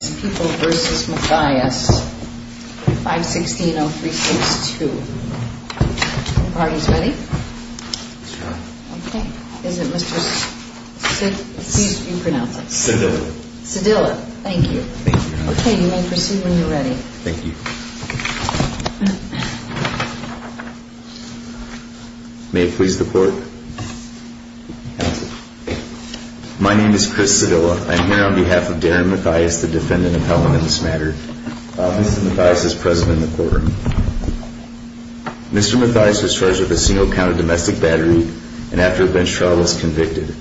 vs. Mathias 5-16-0362 My name is Chris Sedilla. I am here on behalf of Darren Mathias, the defendant appellant in this matter. Mr. Mathias is present in the courtroom. Mr. Mathias was charged with a single count of domestic battery and after a bench trial was convicted.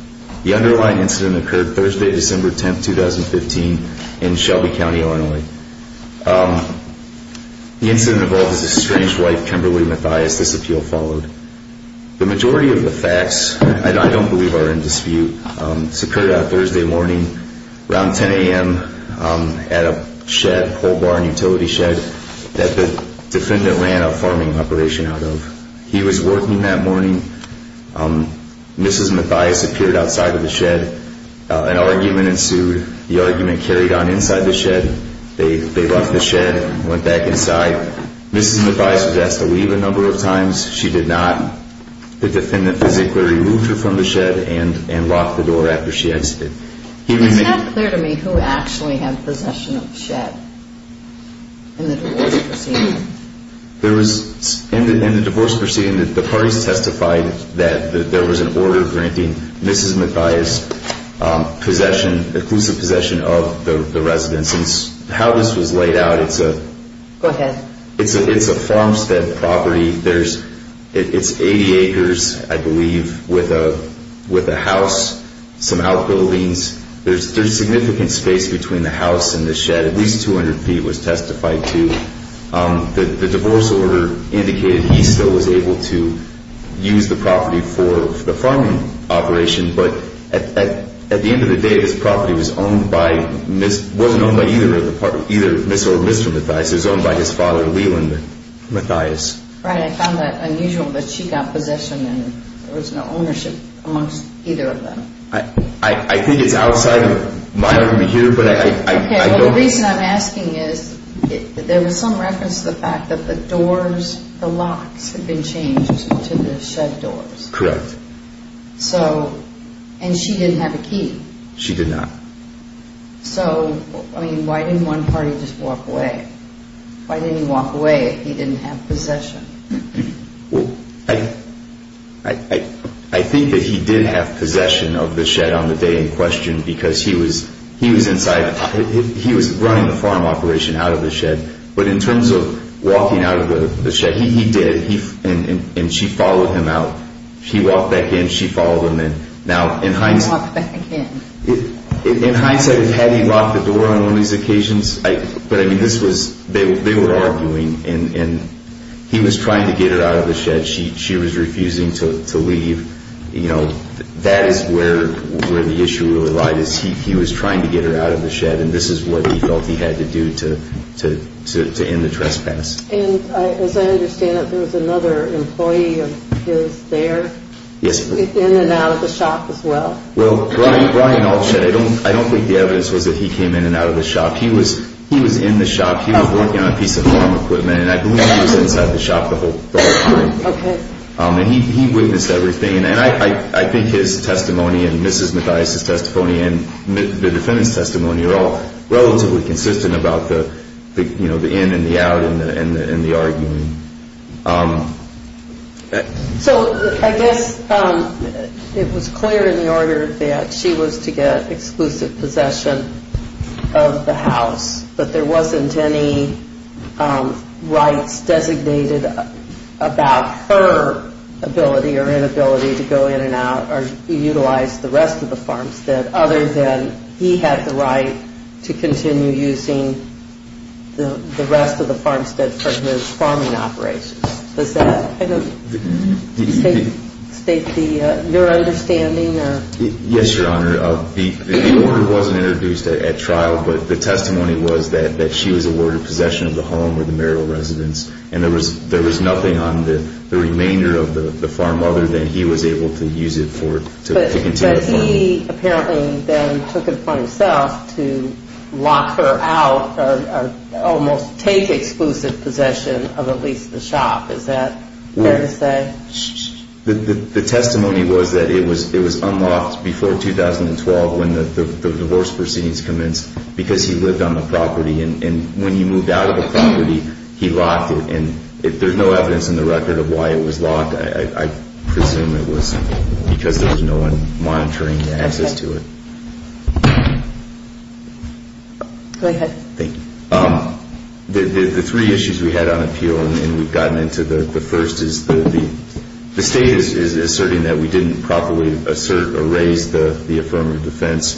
The underlying incident occurred Thursday, December 10, 2015 in Shelby County, Illinois. The incident involved his estranged wife, Kimberly Mathias. This appeal followed. The majority of the facts, I don't believe, are in dispute. This occurred on Thursday morning around 10 a.m. at a shed, a coal barn utility shed, that the defendant ran a farming operation out of. He was working that morning. Mrs. Mathias appeared outside of the shed. An argument ensued. The argument carried on inside the shed. They left the shed and went back inside. Mrs. Mathias was asked to leave a number of times. She did not. The defendant physically removed her from the shed and locked the door after she exited. Can you make it clear to me who actually had possession of the shed in the divorce proceeding? In the divorce proceeding, the parties testified that there was an order granting Mrs. Mathias possession, exclusive possession, of the residence. How this was It's 80 acres, I believe, with a house, some outbuildings. There's significant space between the house and the shed. At least 200 feet was testified to. The divorce order indicated he still was able to use the property for the farming operation, but at the end of the day, this property wasn't owned by either Mrs. or Mr. Mathias. It was owned by his father, Leland Mathias. Right, I found that unusual that she got possession and there was no ownership amongst either of them. I think it's outside of my review, but I don't know. The reason I'm asking is, there was some reference to the fact that the doors, the locks had been changed to the shed doors. Correct. So, and she didn't have a key. She did not. So, I mean, why didn't one party just walk away? Why didn't he walk away if he didn't have possession of the property? Well, I think that he did have possession of the shed on the day in question because he was inside. He was running the farm operation out of the shed. But in terms of walking out of the shed, he did. And she followed him out. He walked back in. She followed him in. Now, in hindsight, had he locked the door on one of these occasions? But, I mean, this was, they were arguing, and he was trying to get her out of the shed. She was refusing to leave. You know, that is where the issue really lies. He was trying to get her out of the shed, and this is what he felt he had to do to end the trespass. And, as I understand it, there was another employee of his there? Yes. In and out of the shop as well? Well, Brian Altshed, I don't think the evidence was that he came in and out of the shop. He was in the shop. He was working on a piece of farm equipment, and I believe he was inside the shop the whole time. Okay. And he witnessed everything. And I think his testimony and Mrs. Mathias' testimony and the defendant's testimony are all relatively consistent about the in and the out and the arguing. So, I guess it was clear in the order that she was to get exclusive possession of the house, but there wasn't any rights designated about her ability or inability to go in and out or utilize the rest of the farmstead, other than he had the right to continue using the rest of the farmstead for his farming operations. Does that kind of state your understanding? Yes, Your Honor. The order wasn't introduced at trial, but the testimony was that she was awarded possession of the home or the marital residence, and there was nothing on the remainder of the farm other than he was able to use it to continue farming. And he apparently then took it upon himself to lock her out or almost take exclusive possession of at least the shop. Is that fair to say? The testimony was that it was unlocked before 2012 when the divorce proceedings commenced because he lived on the property, and when he moved out of the property, he locked it. And there's no evidence in the record of why it was locked. I presume it was because there was no one monitoring the access to it. Okay. Go ahead. The three issues we had on appeal, and we've gotten into the first, is the state is asserting that we didn't properly assert or raise the affirmative defense,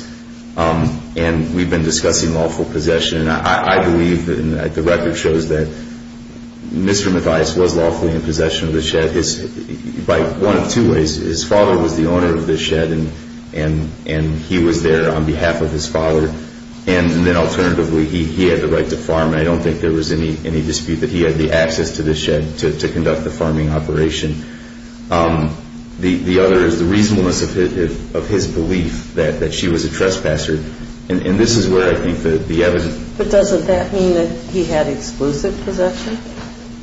and we've been discussing lawful possession. I believe that the record shows that Mr. Mathias was lawfully in possession of the shed by one of two ways. His father was the owner of the shed, and he was there on behalf of his father. And then alternatively, he had the right to farm, and I don't think there was any dispute that he had the access to the shed to conduct the farming operation. The other is the reasonableness of his belief that she was a trespasser, and this is where I think the evidence... But doesn't that mean that he had exclusive possession?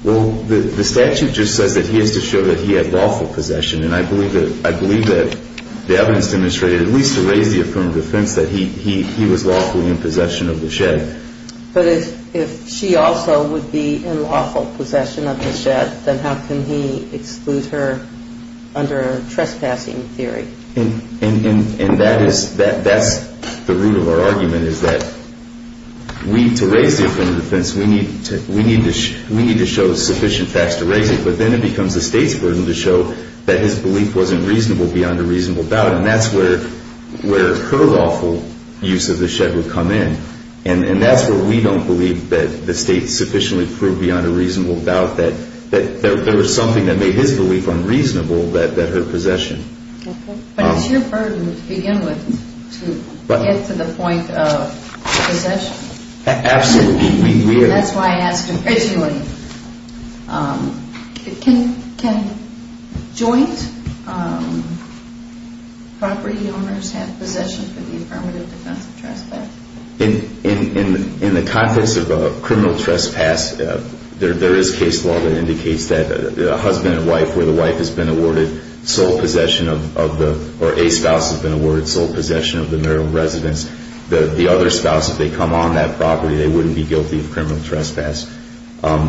Well, the statute just says that he has to show that he had lawful possession, and I believe that the evidence demonstrated, at least to raise the affirmative defense, that he was lawfully in possession of the shed. But if she also would be in lawful possession of the shed, then how can he exclude her under a trespassing theory? And that's the root of our argument, is that we, to raise the affirmative defense, we need to show sufficient facts to raise it. But then it becomes the state's burden to show that his belief wasn't reasonable beyond a reasonable doubt, and that's where her lawful use of the shed would come in. And that's where we don't believe that the state sufficiently proved beyond a reasonable doubt that there was something that made his belief unreasonable, that her possession. But it's your burden to begin with, to get to the point of possession. Absolutely. That's why I asked him originally. Can joint property owners have possession for the affirmative defense of trespass? In the context of a criminal trespass, there is case law that indicates that a husband and wife, where the wife has been awarded sole possession of the...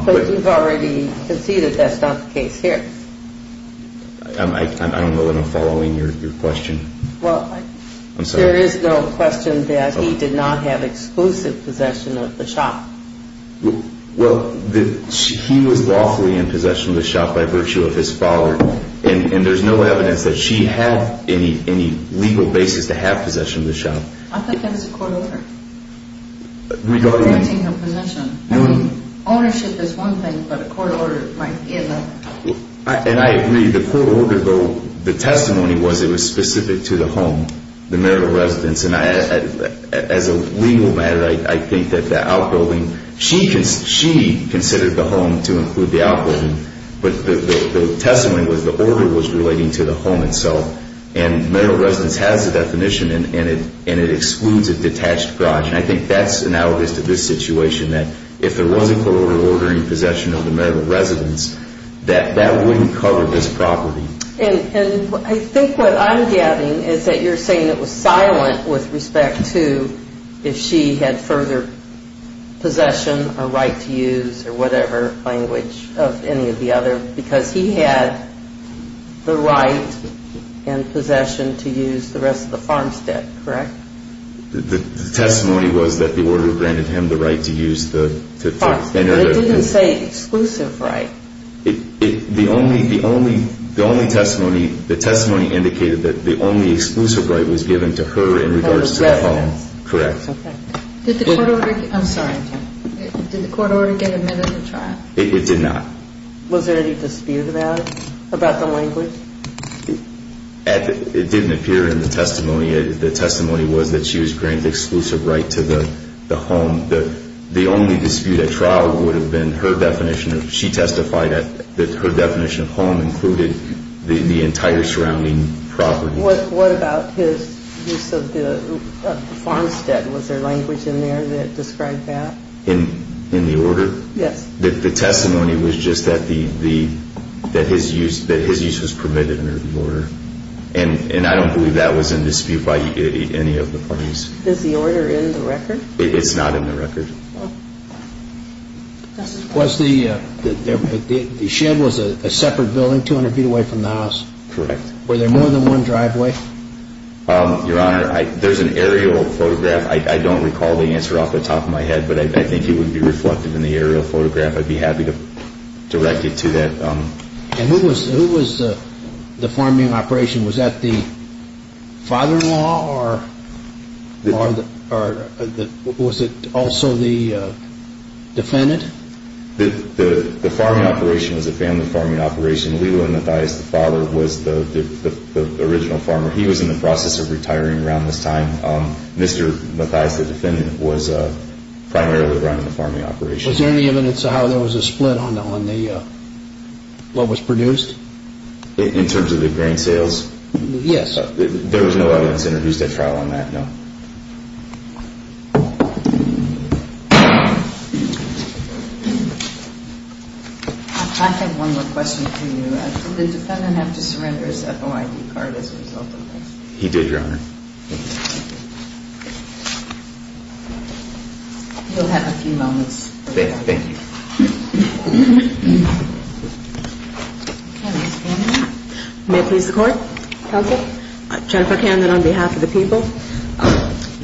But you've already conceded that's not the case here. I don't know that I'm following your question. Well, there is no question that he did not have exclusive possession of the shop. Well, he was lawfully in possession of the shop by virtue of his father, and there's no evidence that she had any legal basis to have possession of the shop. I think that's a court order, granting her possession. Ownership is one thing, but a court order might be another. And I agree. The court order, though, the testimony was it was specific to the home, the marital residence. And as a legal matter, I think that the outbuilding, she considered the home to include the outbuilding, but the testimony was the order was relating to the home itself. And marital residence has a definition, and it excludes a detached garage. And I think that's analogous to this situation, that if there was a court order ordering possession of the marital residence, that that wouldn't cover this property. And I think what I'm getting is that you're saying it was silent with respect to if she had further possession or right to use or whatever language of any of the other. Because he had the right and possession to use the rest of the farmstead, correct? The testimony was that the order granted him the right to use the – But it didn't say exclusive right. The only testimony, the testimony indicated that the only exclusive right was given to her in regards to the home. Correct. Did the court order – I'm sorry. Did the court order get admitted to trial? It did not. Was there any dispute about it, about the language? It didn't appear in the testimony. The testimony was that she was granted exclusive right to the home. The only dispute at trial would have been her definition of – she testified that her definition of home included the entire surrounding property. What about his use of the farmstead? Was there language in there that described that? In the order? Yes. The testimony was just that his use was permitted under the order. And I don't believe that was in dispute by any of the parties. Is the order in the record? It's not in the record. Was the – the shed was a separate building 200 feet away from the house? Correct. Were there more than one driveway? Your Honor, there's an aerial photograph. I don't recall the answer off the top of my head, but I think it would be reflective in the aerial photograph. I'd be happy to direct you to that. And who was the farming operation? Was that the father-in-law or was it also the defendant? The farming operation was a family farming operation. Leland Mathias, the father, was the original farmer. He was in the process of retiring around this time. Mr. Mathias, the defendant, was primarily running the farming operation. Was there any evidence of how there was a split on the – what was produced? In terms of the grain sales? Yes. There was no evidence introduced at trial on that, no. I have one more question for you. Did the defendant have to surrender his FOID card as a result of this? He did, Your Honor. You'll have a few moments. Thank you. Jennifer Camden. May it please the Court? Counsel. Jennifer Camden on behalf of the people.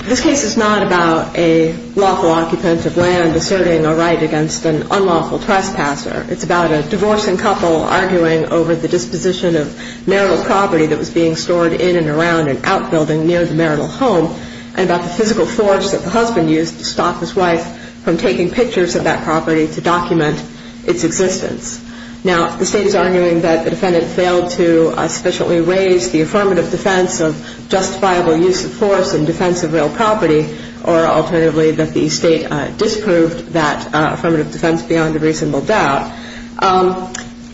This case is not about a lawful occupant of land asserting a right against an unlawful trespasser. It's about a divorcing couple arguing over the disposition of marital property that was being stored in and around an outbuilding near the marital home and about the physical force that the husband used to stop his wife from taking pictures of that property to document its existence. Now, if the State is arguing that the defendant failed to sufficiently raise the affirmative defense of justifiable use of force in defense of real property or alternatively that the State disproved that affirmative defense beyond a reasonable doubt,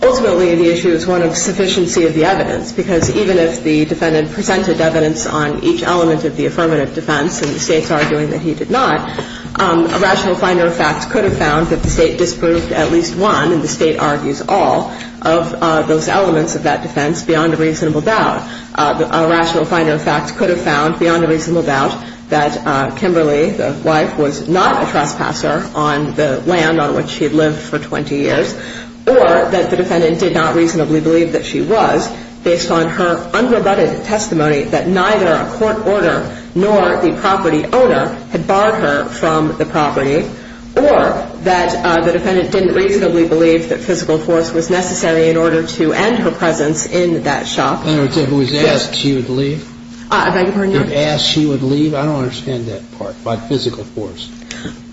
ultimately the issue is one of sufficiency of the evidence because even if the defendant presented evidence on each element of the affirmative defense and the State's arguing that he did not, a rational finder of facts could have found that the State disproved at least one and the State argues all of those elements of that defense beyond a reasonable doubt. A rational finder of facts could have found beyond a reasonable doubt that Kimberly, the wife, was not a trespasser on the land on which she had lived for 20 years or that the defendant did not reasonably believe that she was based on her unrebutted testimony that neither a court order nor the property owner had barred her from the property or that the defendant didn't reasonably believe that physical force was necessary in order to end her presence in that shop. In other words, who was asked she would leave? I beg your pardon, Your Honor? Who was asked she would leave? I don't understand that part about physical force.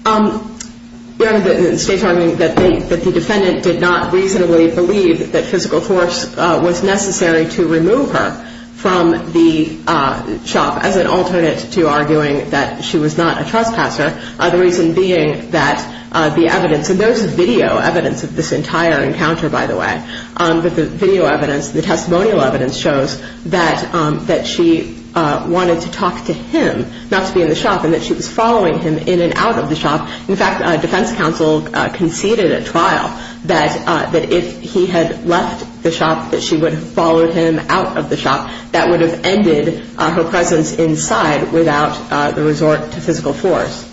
The State's arguing that the defendant did not reasonably believe that physical force was necessary to remove her from the shop as an alternate to arguing that she was not a trespasser, the reason being that the evidence, and there's video evidence of this entire encounter, by the way, but the video evidence, the testimonial evidence, shows that she wanted to talk to him, not to be in the shop, and that she was following him in and out of the shop. In fact, defense counsel conceded at trial that if he had left the shop that she would have followed him out of the shop. That would have ended her presence inside without the resort to physical force.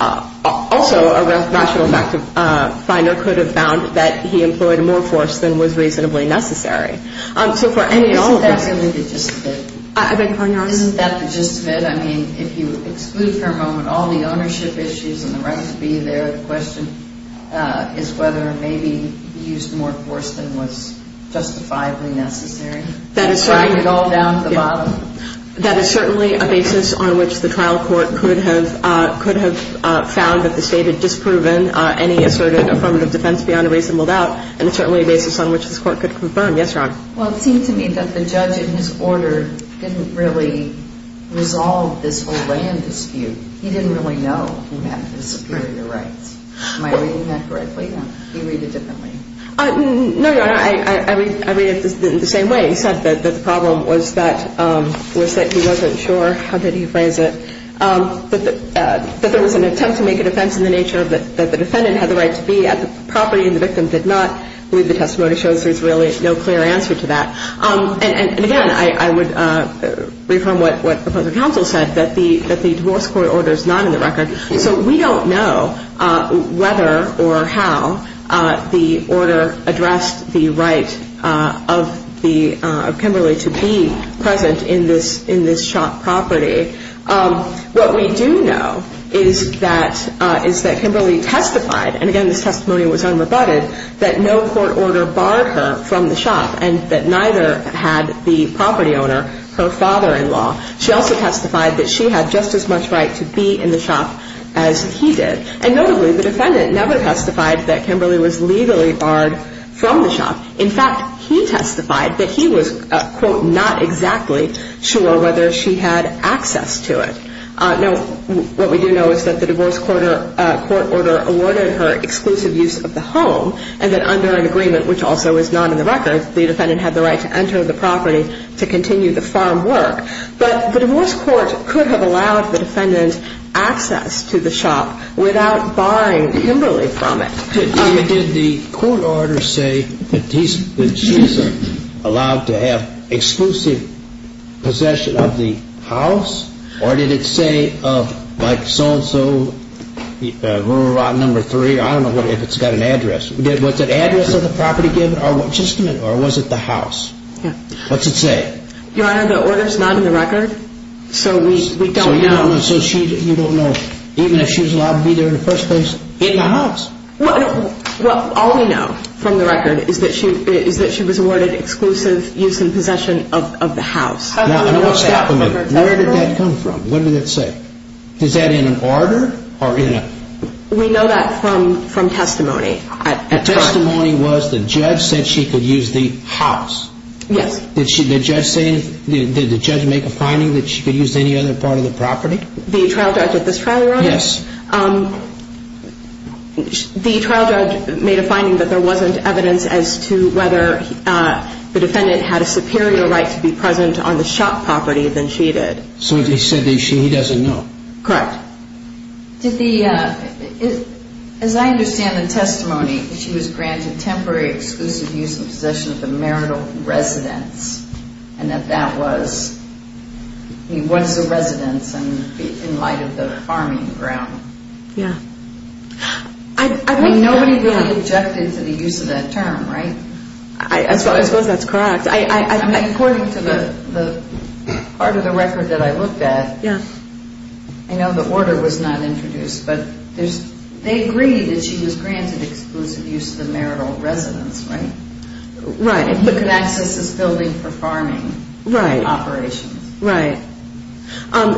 Also, a rational fact finder could have found that he employed more force than was reasonably necessary. So for any and all of us. Isn't that the gist of it? I beg your pardon, Your Honor? Isn't that the gist of it? I mean, if you exclude for a moment all the ownership issues and the right to be there, the question is whether maybe he used more force than was justifiably necessary. That is certainly a basis on which the trial court could have found that the State had disproven any asserted affirmative defense beyond a reasonable doubt, and it's certainly a basis on which this court could confirm. Yes, Your Honor? Well, it seemed to me that the judge in his order didn't really resolve this whole land dispute. He didn't really know who had the superior rights. Am I reading that correctly? You read it differently. No, Your Honor. I read it the same way. He said that the problem was that he wasn't sure. How did he phrase it? That there was an attempt to make a defense in the nature that the defendant had the right to be at the property and the victim did not believe the testimony shows there's really no clear answer to that. And, again, I would reaffirm what the counsel said, that the divorce court order is not in the record. So we don't know whether or how the order addressed the right of Kimberly to be present in this shop property. What we do know is that Kimberly testified, and, again, this testimony was unrebutted, that no court order barred her from the shop and that neither had the property owner, her father-in-law. She also testified that she had just as much right to be in the shop as he did. And, notably, the defendant never testified that Kimberly was legally barred from the shop. In fact, he testified that he was, quote, not exactly sure whether she had access to it. Now, what we do know is that the divorce court order awarded her exclusive use of the home and that under an agreement, which also is not in the record, the defendant had the right to enter the property to continue the farm work. But the divorce court could have allowed the defendant access to the shop without barring Kimberly from it. Did the court order say that she's allowed to have exclusive possession of the house? Or did it say, like, so-and-so, rural lot number three? I don't know if it's got an address. Was that address of the property given or was it the house? Yeah. What's it say? Your Honor, the order's not in the record, so we don't know. So you don't know, even if she was allowed to be there in the first place in the house? Well, all we know from the record is that she was awarded exclusive use and possession of the house. Now, what's that? Where did that come from? What did it say? Is that in an order or in a... We know that from testimony. The testimony was the judge said she could use the house. Yes. Did the judge make a finding that she could use any other part of the property? The trial judge at this trial, Your Honor? Yes. The trial judge made a finding that there wasn't evidence as to whether the defendant had a superior right to be present on the shop property than she did. So they said that she doesn't know. Correct. Did the... As I understand the testimony, she was granted temporary exclusive use and possession of the marital residence, and that that was... I mean, what's a residence in light of the farming ground? Yeah. Nobody really objected to the use of that term, right? I suppose that's correct. According to the part of the record that I looked at, I know the order was not introduced, but they agreed that she was granted exclusive use of the marital residence, right? Right. And he could access this building for farming. Right. Operations. Right.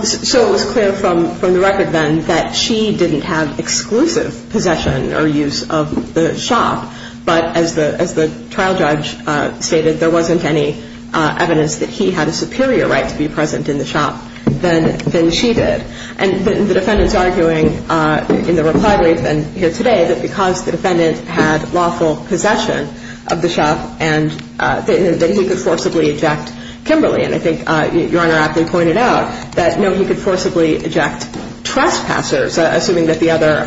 So it was clear from the record then that she didn't have exclusive possession or use of the shop, but as the trial judge stated, there wasn't any evidence that he had a superior right to be present in the shop than she did. And the defendant's arguing in the reply brief and here today that because the defendant had lawful possession of the shop and that he could forcibly eject Kimberly. And I think Your Honor aptly pointed out that, no, he could forcibly eject trespassers, assuming that the other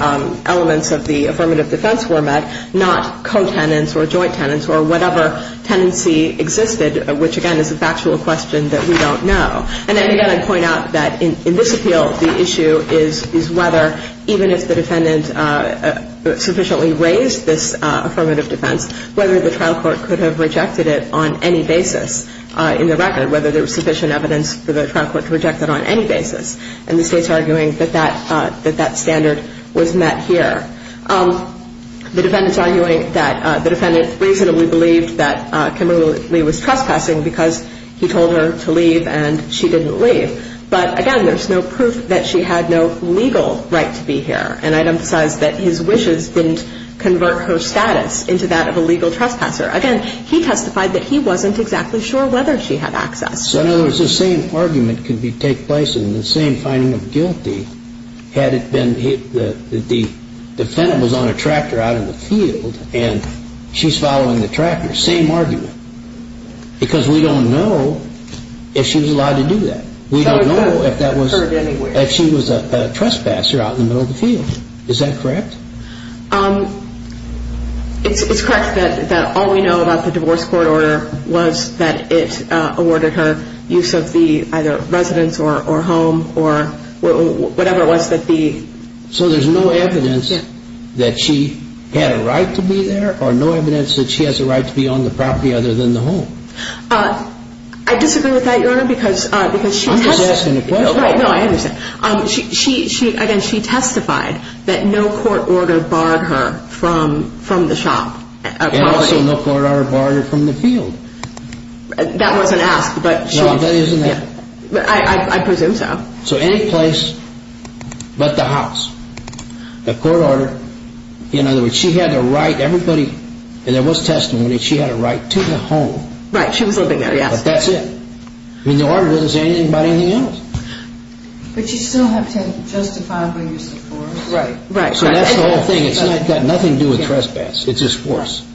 elements of the affirmative defense were met, not co-tenants or joint tenants or whatever tenancy existed, which, again, is a factual question that we don't know. And then, again, I'd point out that in this appeal, the issue is whether, even if the defendant sufficiently raised this affirmative defense, whether the trial court could have rejected it on any basis in the record, whether there was sufficient evidence for the trial court to reject it on any basis. And the State's arguing that that standard was met here. The defendant's arguing that the defendant reasonably believed that Kimberly was trespassing because he told her to leave and she didn't leave. But, again, there's no proof that she had no legal right to be here. And I'd emphasize that his wishes didn't convert her status into that of a legal trespasser. Again, he testified that he wasn't exactly sure whether she had access. So, in other words, the same argument could take place in the same finding of guilty, had it been that the defendant was on a tractor out in the field and she's following the tractor. Same argument. Because we don't know if she was allowed to do that. We don't know if she was a trespasser out in the middle of the field. Is that correct? It's correct that all we know about the divorce court order was that it awarded her use of the either residence or home or whatever it was that the... So there's no evidence that she had a right to be there or no evidence that she has a right to be on the property other than the home. I disagree with that, Your Honor, because she... I'm just asking a question. No, I understand. Again, she testified that no court order barred her from the shop. And also no court order barred her from the field. That wasn't asked, but she... No, that isn't asked. I presume so. So any place but the house. The court order, in other words, she had the right, everybody, and there was testimony that she had a right to the home. Right, she was living there, yes. But that's it. I mean, the order doesn't say anything about anything else. But you still have to justify by use of force. Right. So that's the whole thing. It's got nothing to do with trespass. It's just force.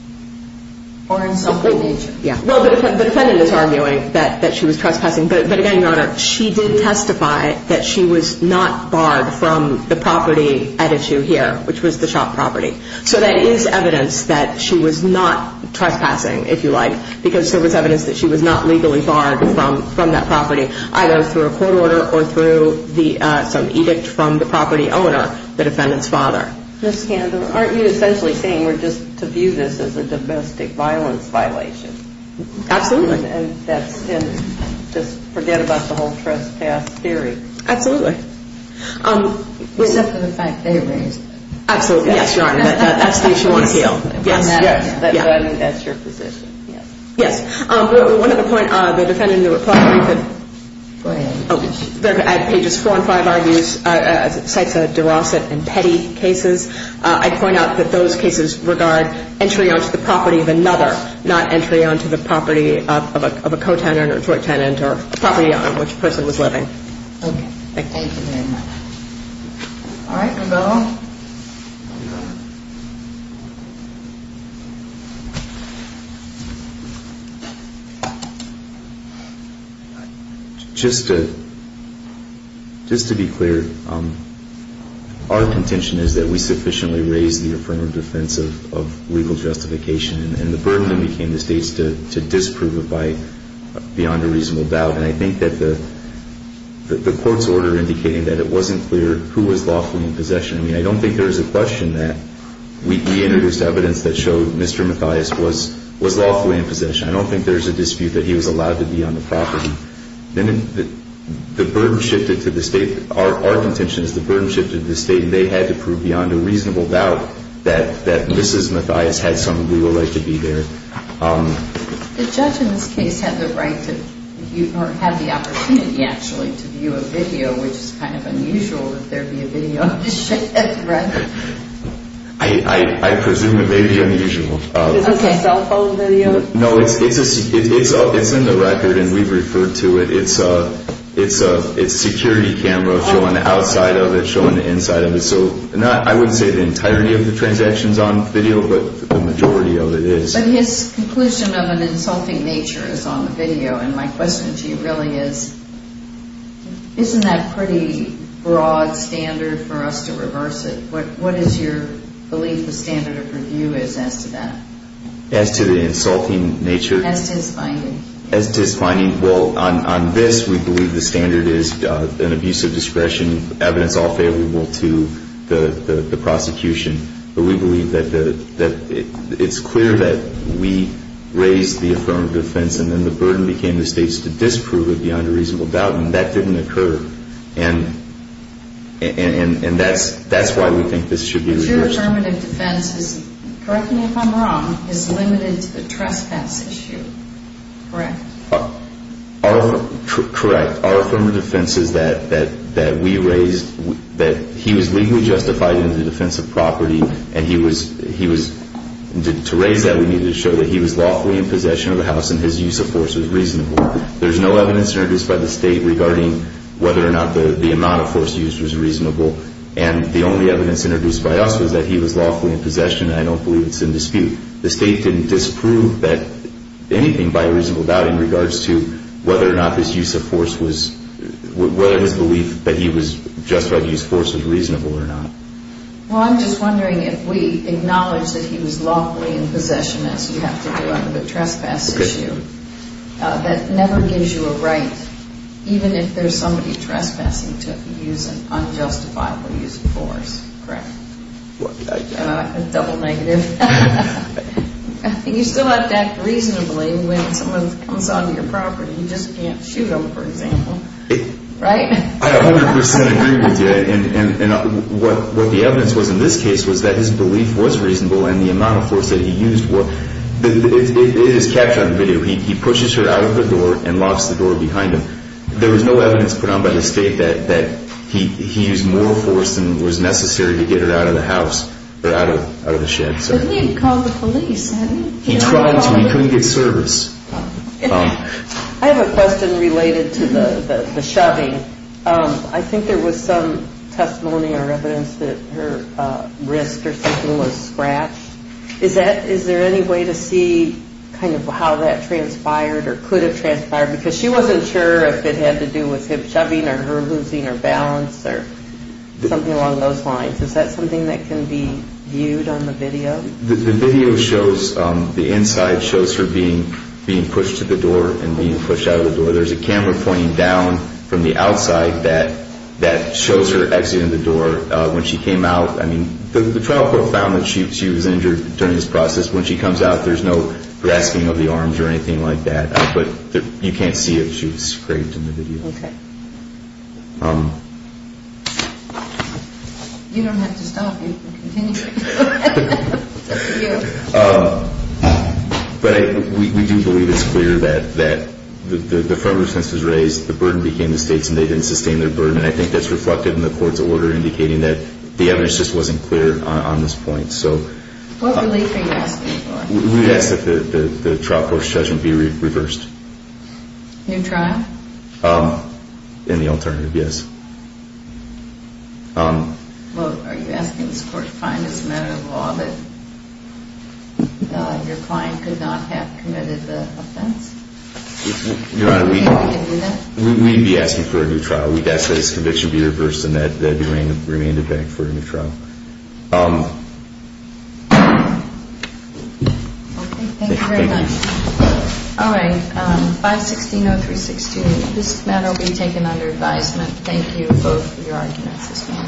Or in some way, nature. Yeah. Well, the defendant is arguing that she was trespassing, but again, Your Honor, she did testify that she was not barred from the property at issue here, which was the shop property. So there is evidence that she was not trespassing, if you like, because there was evidence that she was not legally barred from that property, either through a court order or through some edict from the property owner, the defendant's father. Ms. Candler, aren't you essentially saying we're just to view this as a domestic violence violation? Absolutely. And just forget about the whole trespass theory. Absolutely. Except for the fact they raised it. Absolutely. Yes, Your Honor. That's the issue on appeal. Yes, yes. But I mean, that's your position. Yes. Yes. One other point, the defendant in the report, at pages four and five, cites a DeRossett and Petty cases. I'd point out that those cases regard entry onto the property of another, not entry onto the property of a co-tenant or a court tenant or a property on which the person was living. Okay. Thank you. Thank you very much. All right. Rubello. Just to be clear, our contention is that we sufficiently raise the affirmative defense of legal justification and the burden then became the State's to disprove it beyond a reasonable doubt. And I think that the court's order indicating that it wasn't clear who was lawfully in possession. I mean, I don't think there's a question that we introduced evidence that showed Mr. Mathias was lawfully in possession. I don't think there's a dispute that he was allowed to be on the property. The burden shifted to the State. Our contention is the burden shifted to the State, and they had to prove beyond a reasonable doubt that Mrs. Mathias had some legal right to be there. The judge in this case had the right to view, or had the opportunity, actually, to view a video, which is kind of unusual if there'd be a video of his shift, right? I presume it may be unusual. Is this a cell phone video? No, it's in the record, and we've referred to it. It's a security camera showing the outside of it, showing the inside of it. So I wouldn't say the entirety of the transaction's on video, but the majority of it is. But his conclusion of an insulting nature is on the video, and my question to you really is, isn't that pretty broad standard for us to reverse it? What is your belief the standard of review is as to that? As to the insulting nature? As to his finding. As to his finding. Well, on this, we believe the standard is an abuse of discretion, evidence all favorable to the prosecution. But we believe that it's clear that we raised the affirmative defense, and then the burden became the states to disprove it beyond a reasonable doubt, and that didn't occur. And that's why we think this should be reversed. Your affirmative defense is, correct me if I'm wrong, is limited to the trespass issue, correct? Correct. Our affirmative defense is that we raised that he was legally justified in the defense of property, and to raise that we needed to show that he was lawfully in possession of the house and his use of force was reasonable. There's no evidence introduced by the state regarding whether or not the amount of force used was reasonable. And the only evidence introduced by us was that he was lawfully in possession, and I don't believe it's in dispute. The state didn't disprove anything by a reasonable doubt in regards to whether or not his use of force was reasonable or not. Well, I'm just wondering if we acknowledge that he was lawfully in possession, as you have to do under the trespass issue, that never gives you a right, even if there's somebody trespassing to use an unjustifiable use of force, correct? A double negative. You still have to act reasonably when someone comes onto your property. You just can't shoot them, for example, right? I 100% agree with you. And what the evidence was in this case was that his belief was reasonable and the amount of force that he used was. It is captured on video. He pushes her out of the door and locks the door behind him. There was no evidence put on by the state that he used more force than was necessary to get her out of the house or out of the shed. But he had called the police. He tried to. He couldn't get service. I have a question related to the shoving. I think there was some testimony or evidence that her wrist or something was scratched. Is there any way to see kind of how that transpired or could have transpired? Because she wasn't sure if it had to do with him shoving or her losing her balance or something along those lines. Is that something that can be viewed on the video? The video shows the inside shows her being pushed to the door and being pushed out of the door. There's a camera pointing down from the outside that shows her exiting the door when she came out. I mean, the trial court found that she was injured during this process. When she comes out, there's no grasping of the arms or anything like that. But you can't see it. She was scraped in the video. Okay. You don't have to stop. You can continue. But we do believe it's clear that the federal expense was raised, the burden became the state's, and they didn't sustain their burden. And I think that's reflected in the court's order indicating that the evidence just wasn't clear on this point. What relief are you asking for? We would ask that the trial court's judgment be reversed. New trial? In the alternative, yes. Well, are you asking this court to find this a matter of law that your client could not have committed the offense? Your Honor, we'd be asking for a new trial. We'd ask that this conviction be reversed and that it remain the bank for a new trial. Okay. Thank you very much. All right. 516-0362, this matter will be taken under advisement. Thank you for your arguments this morning.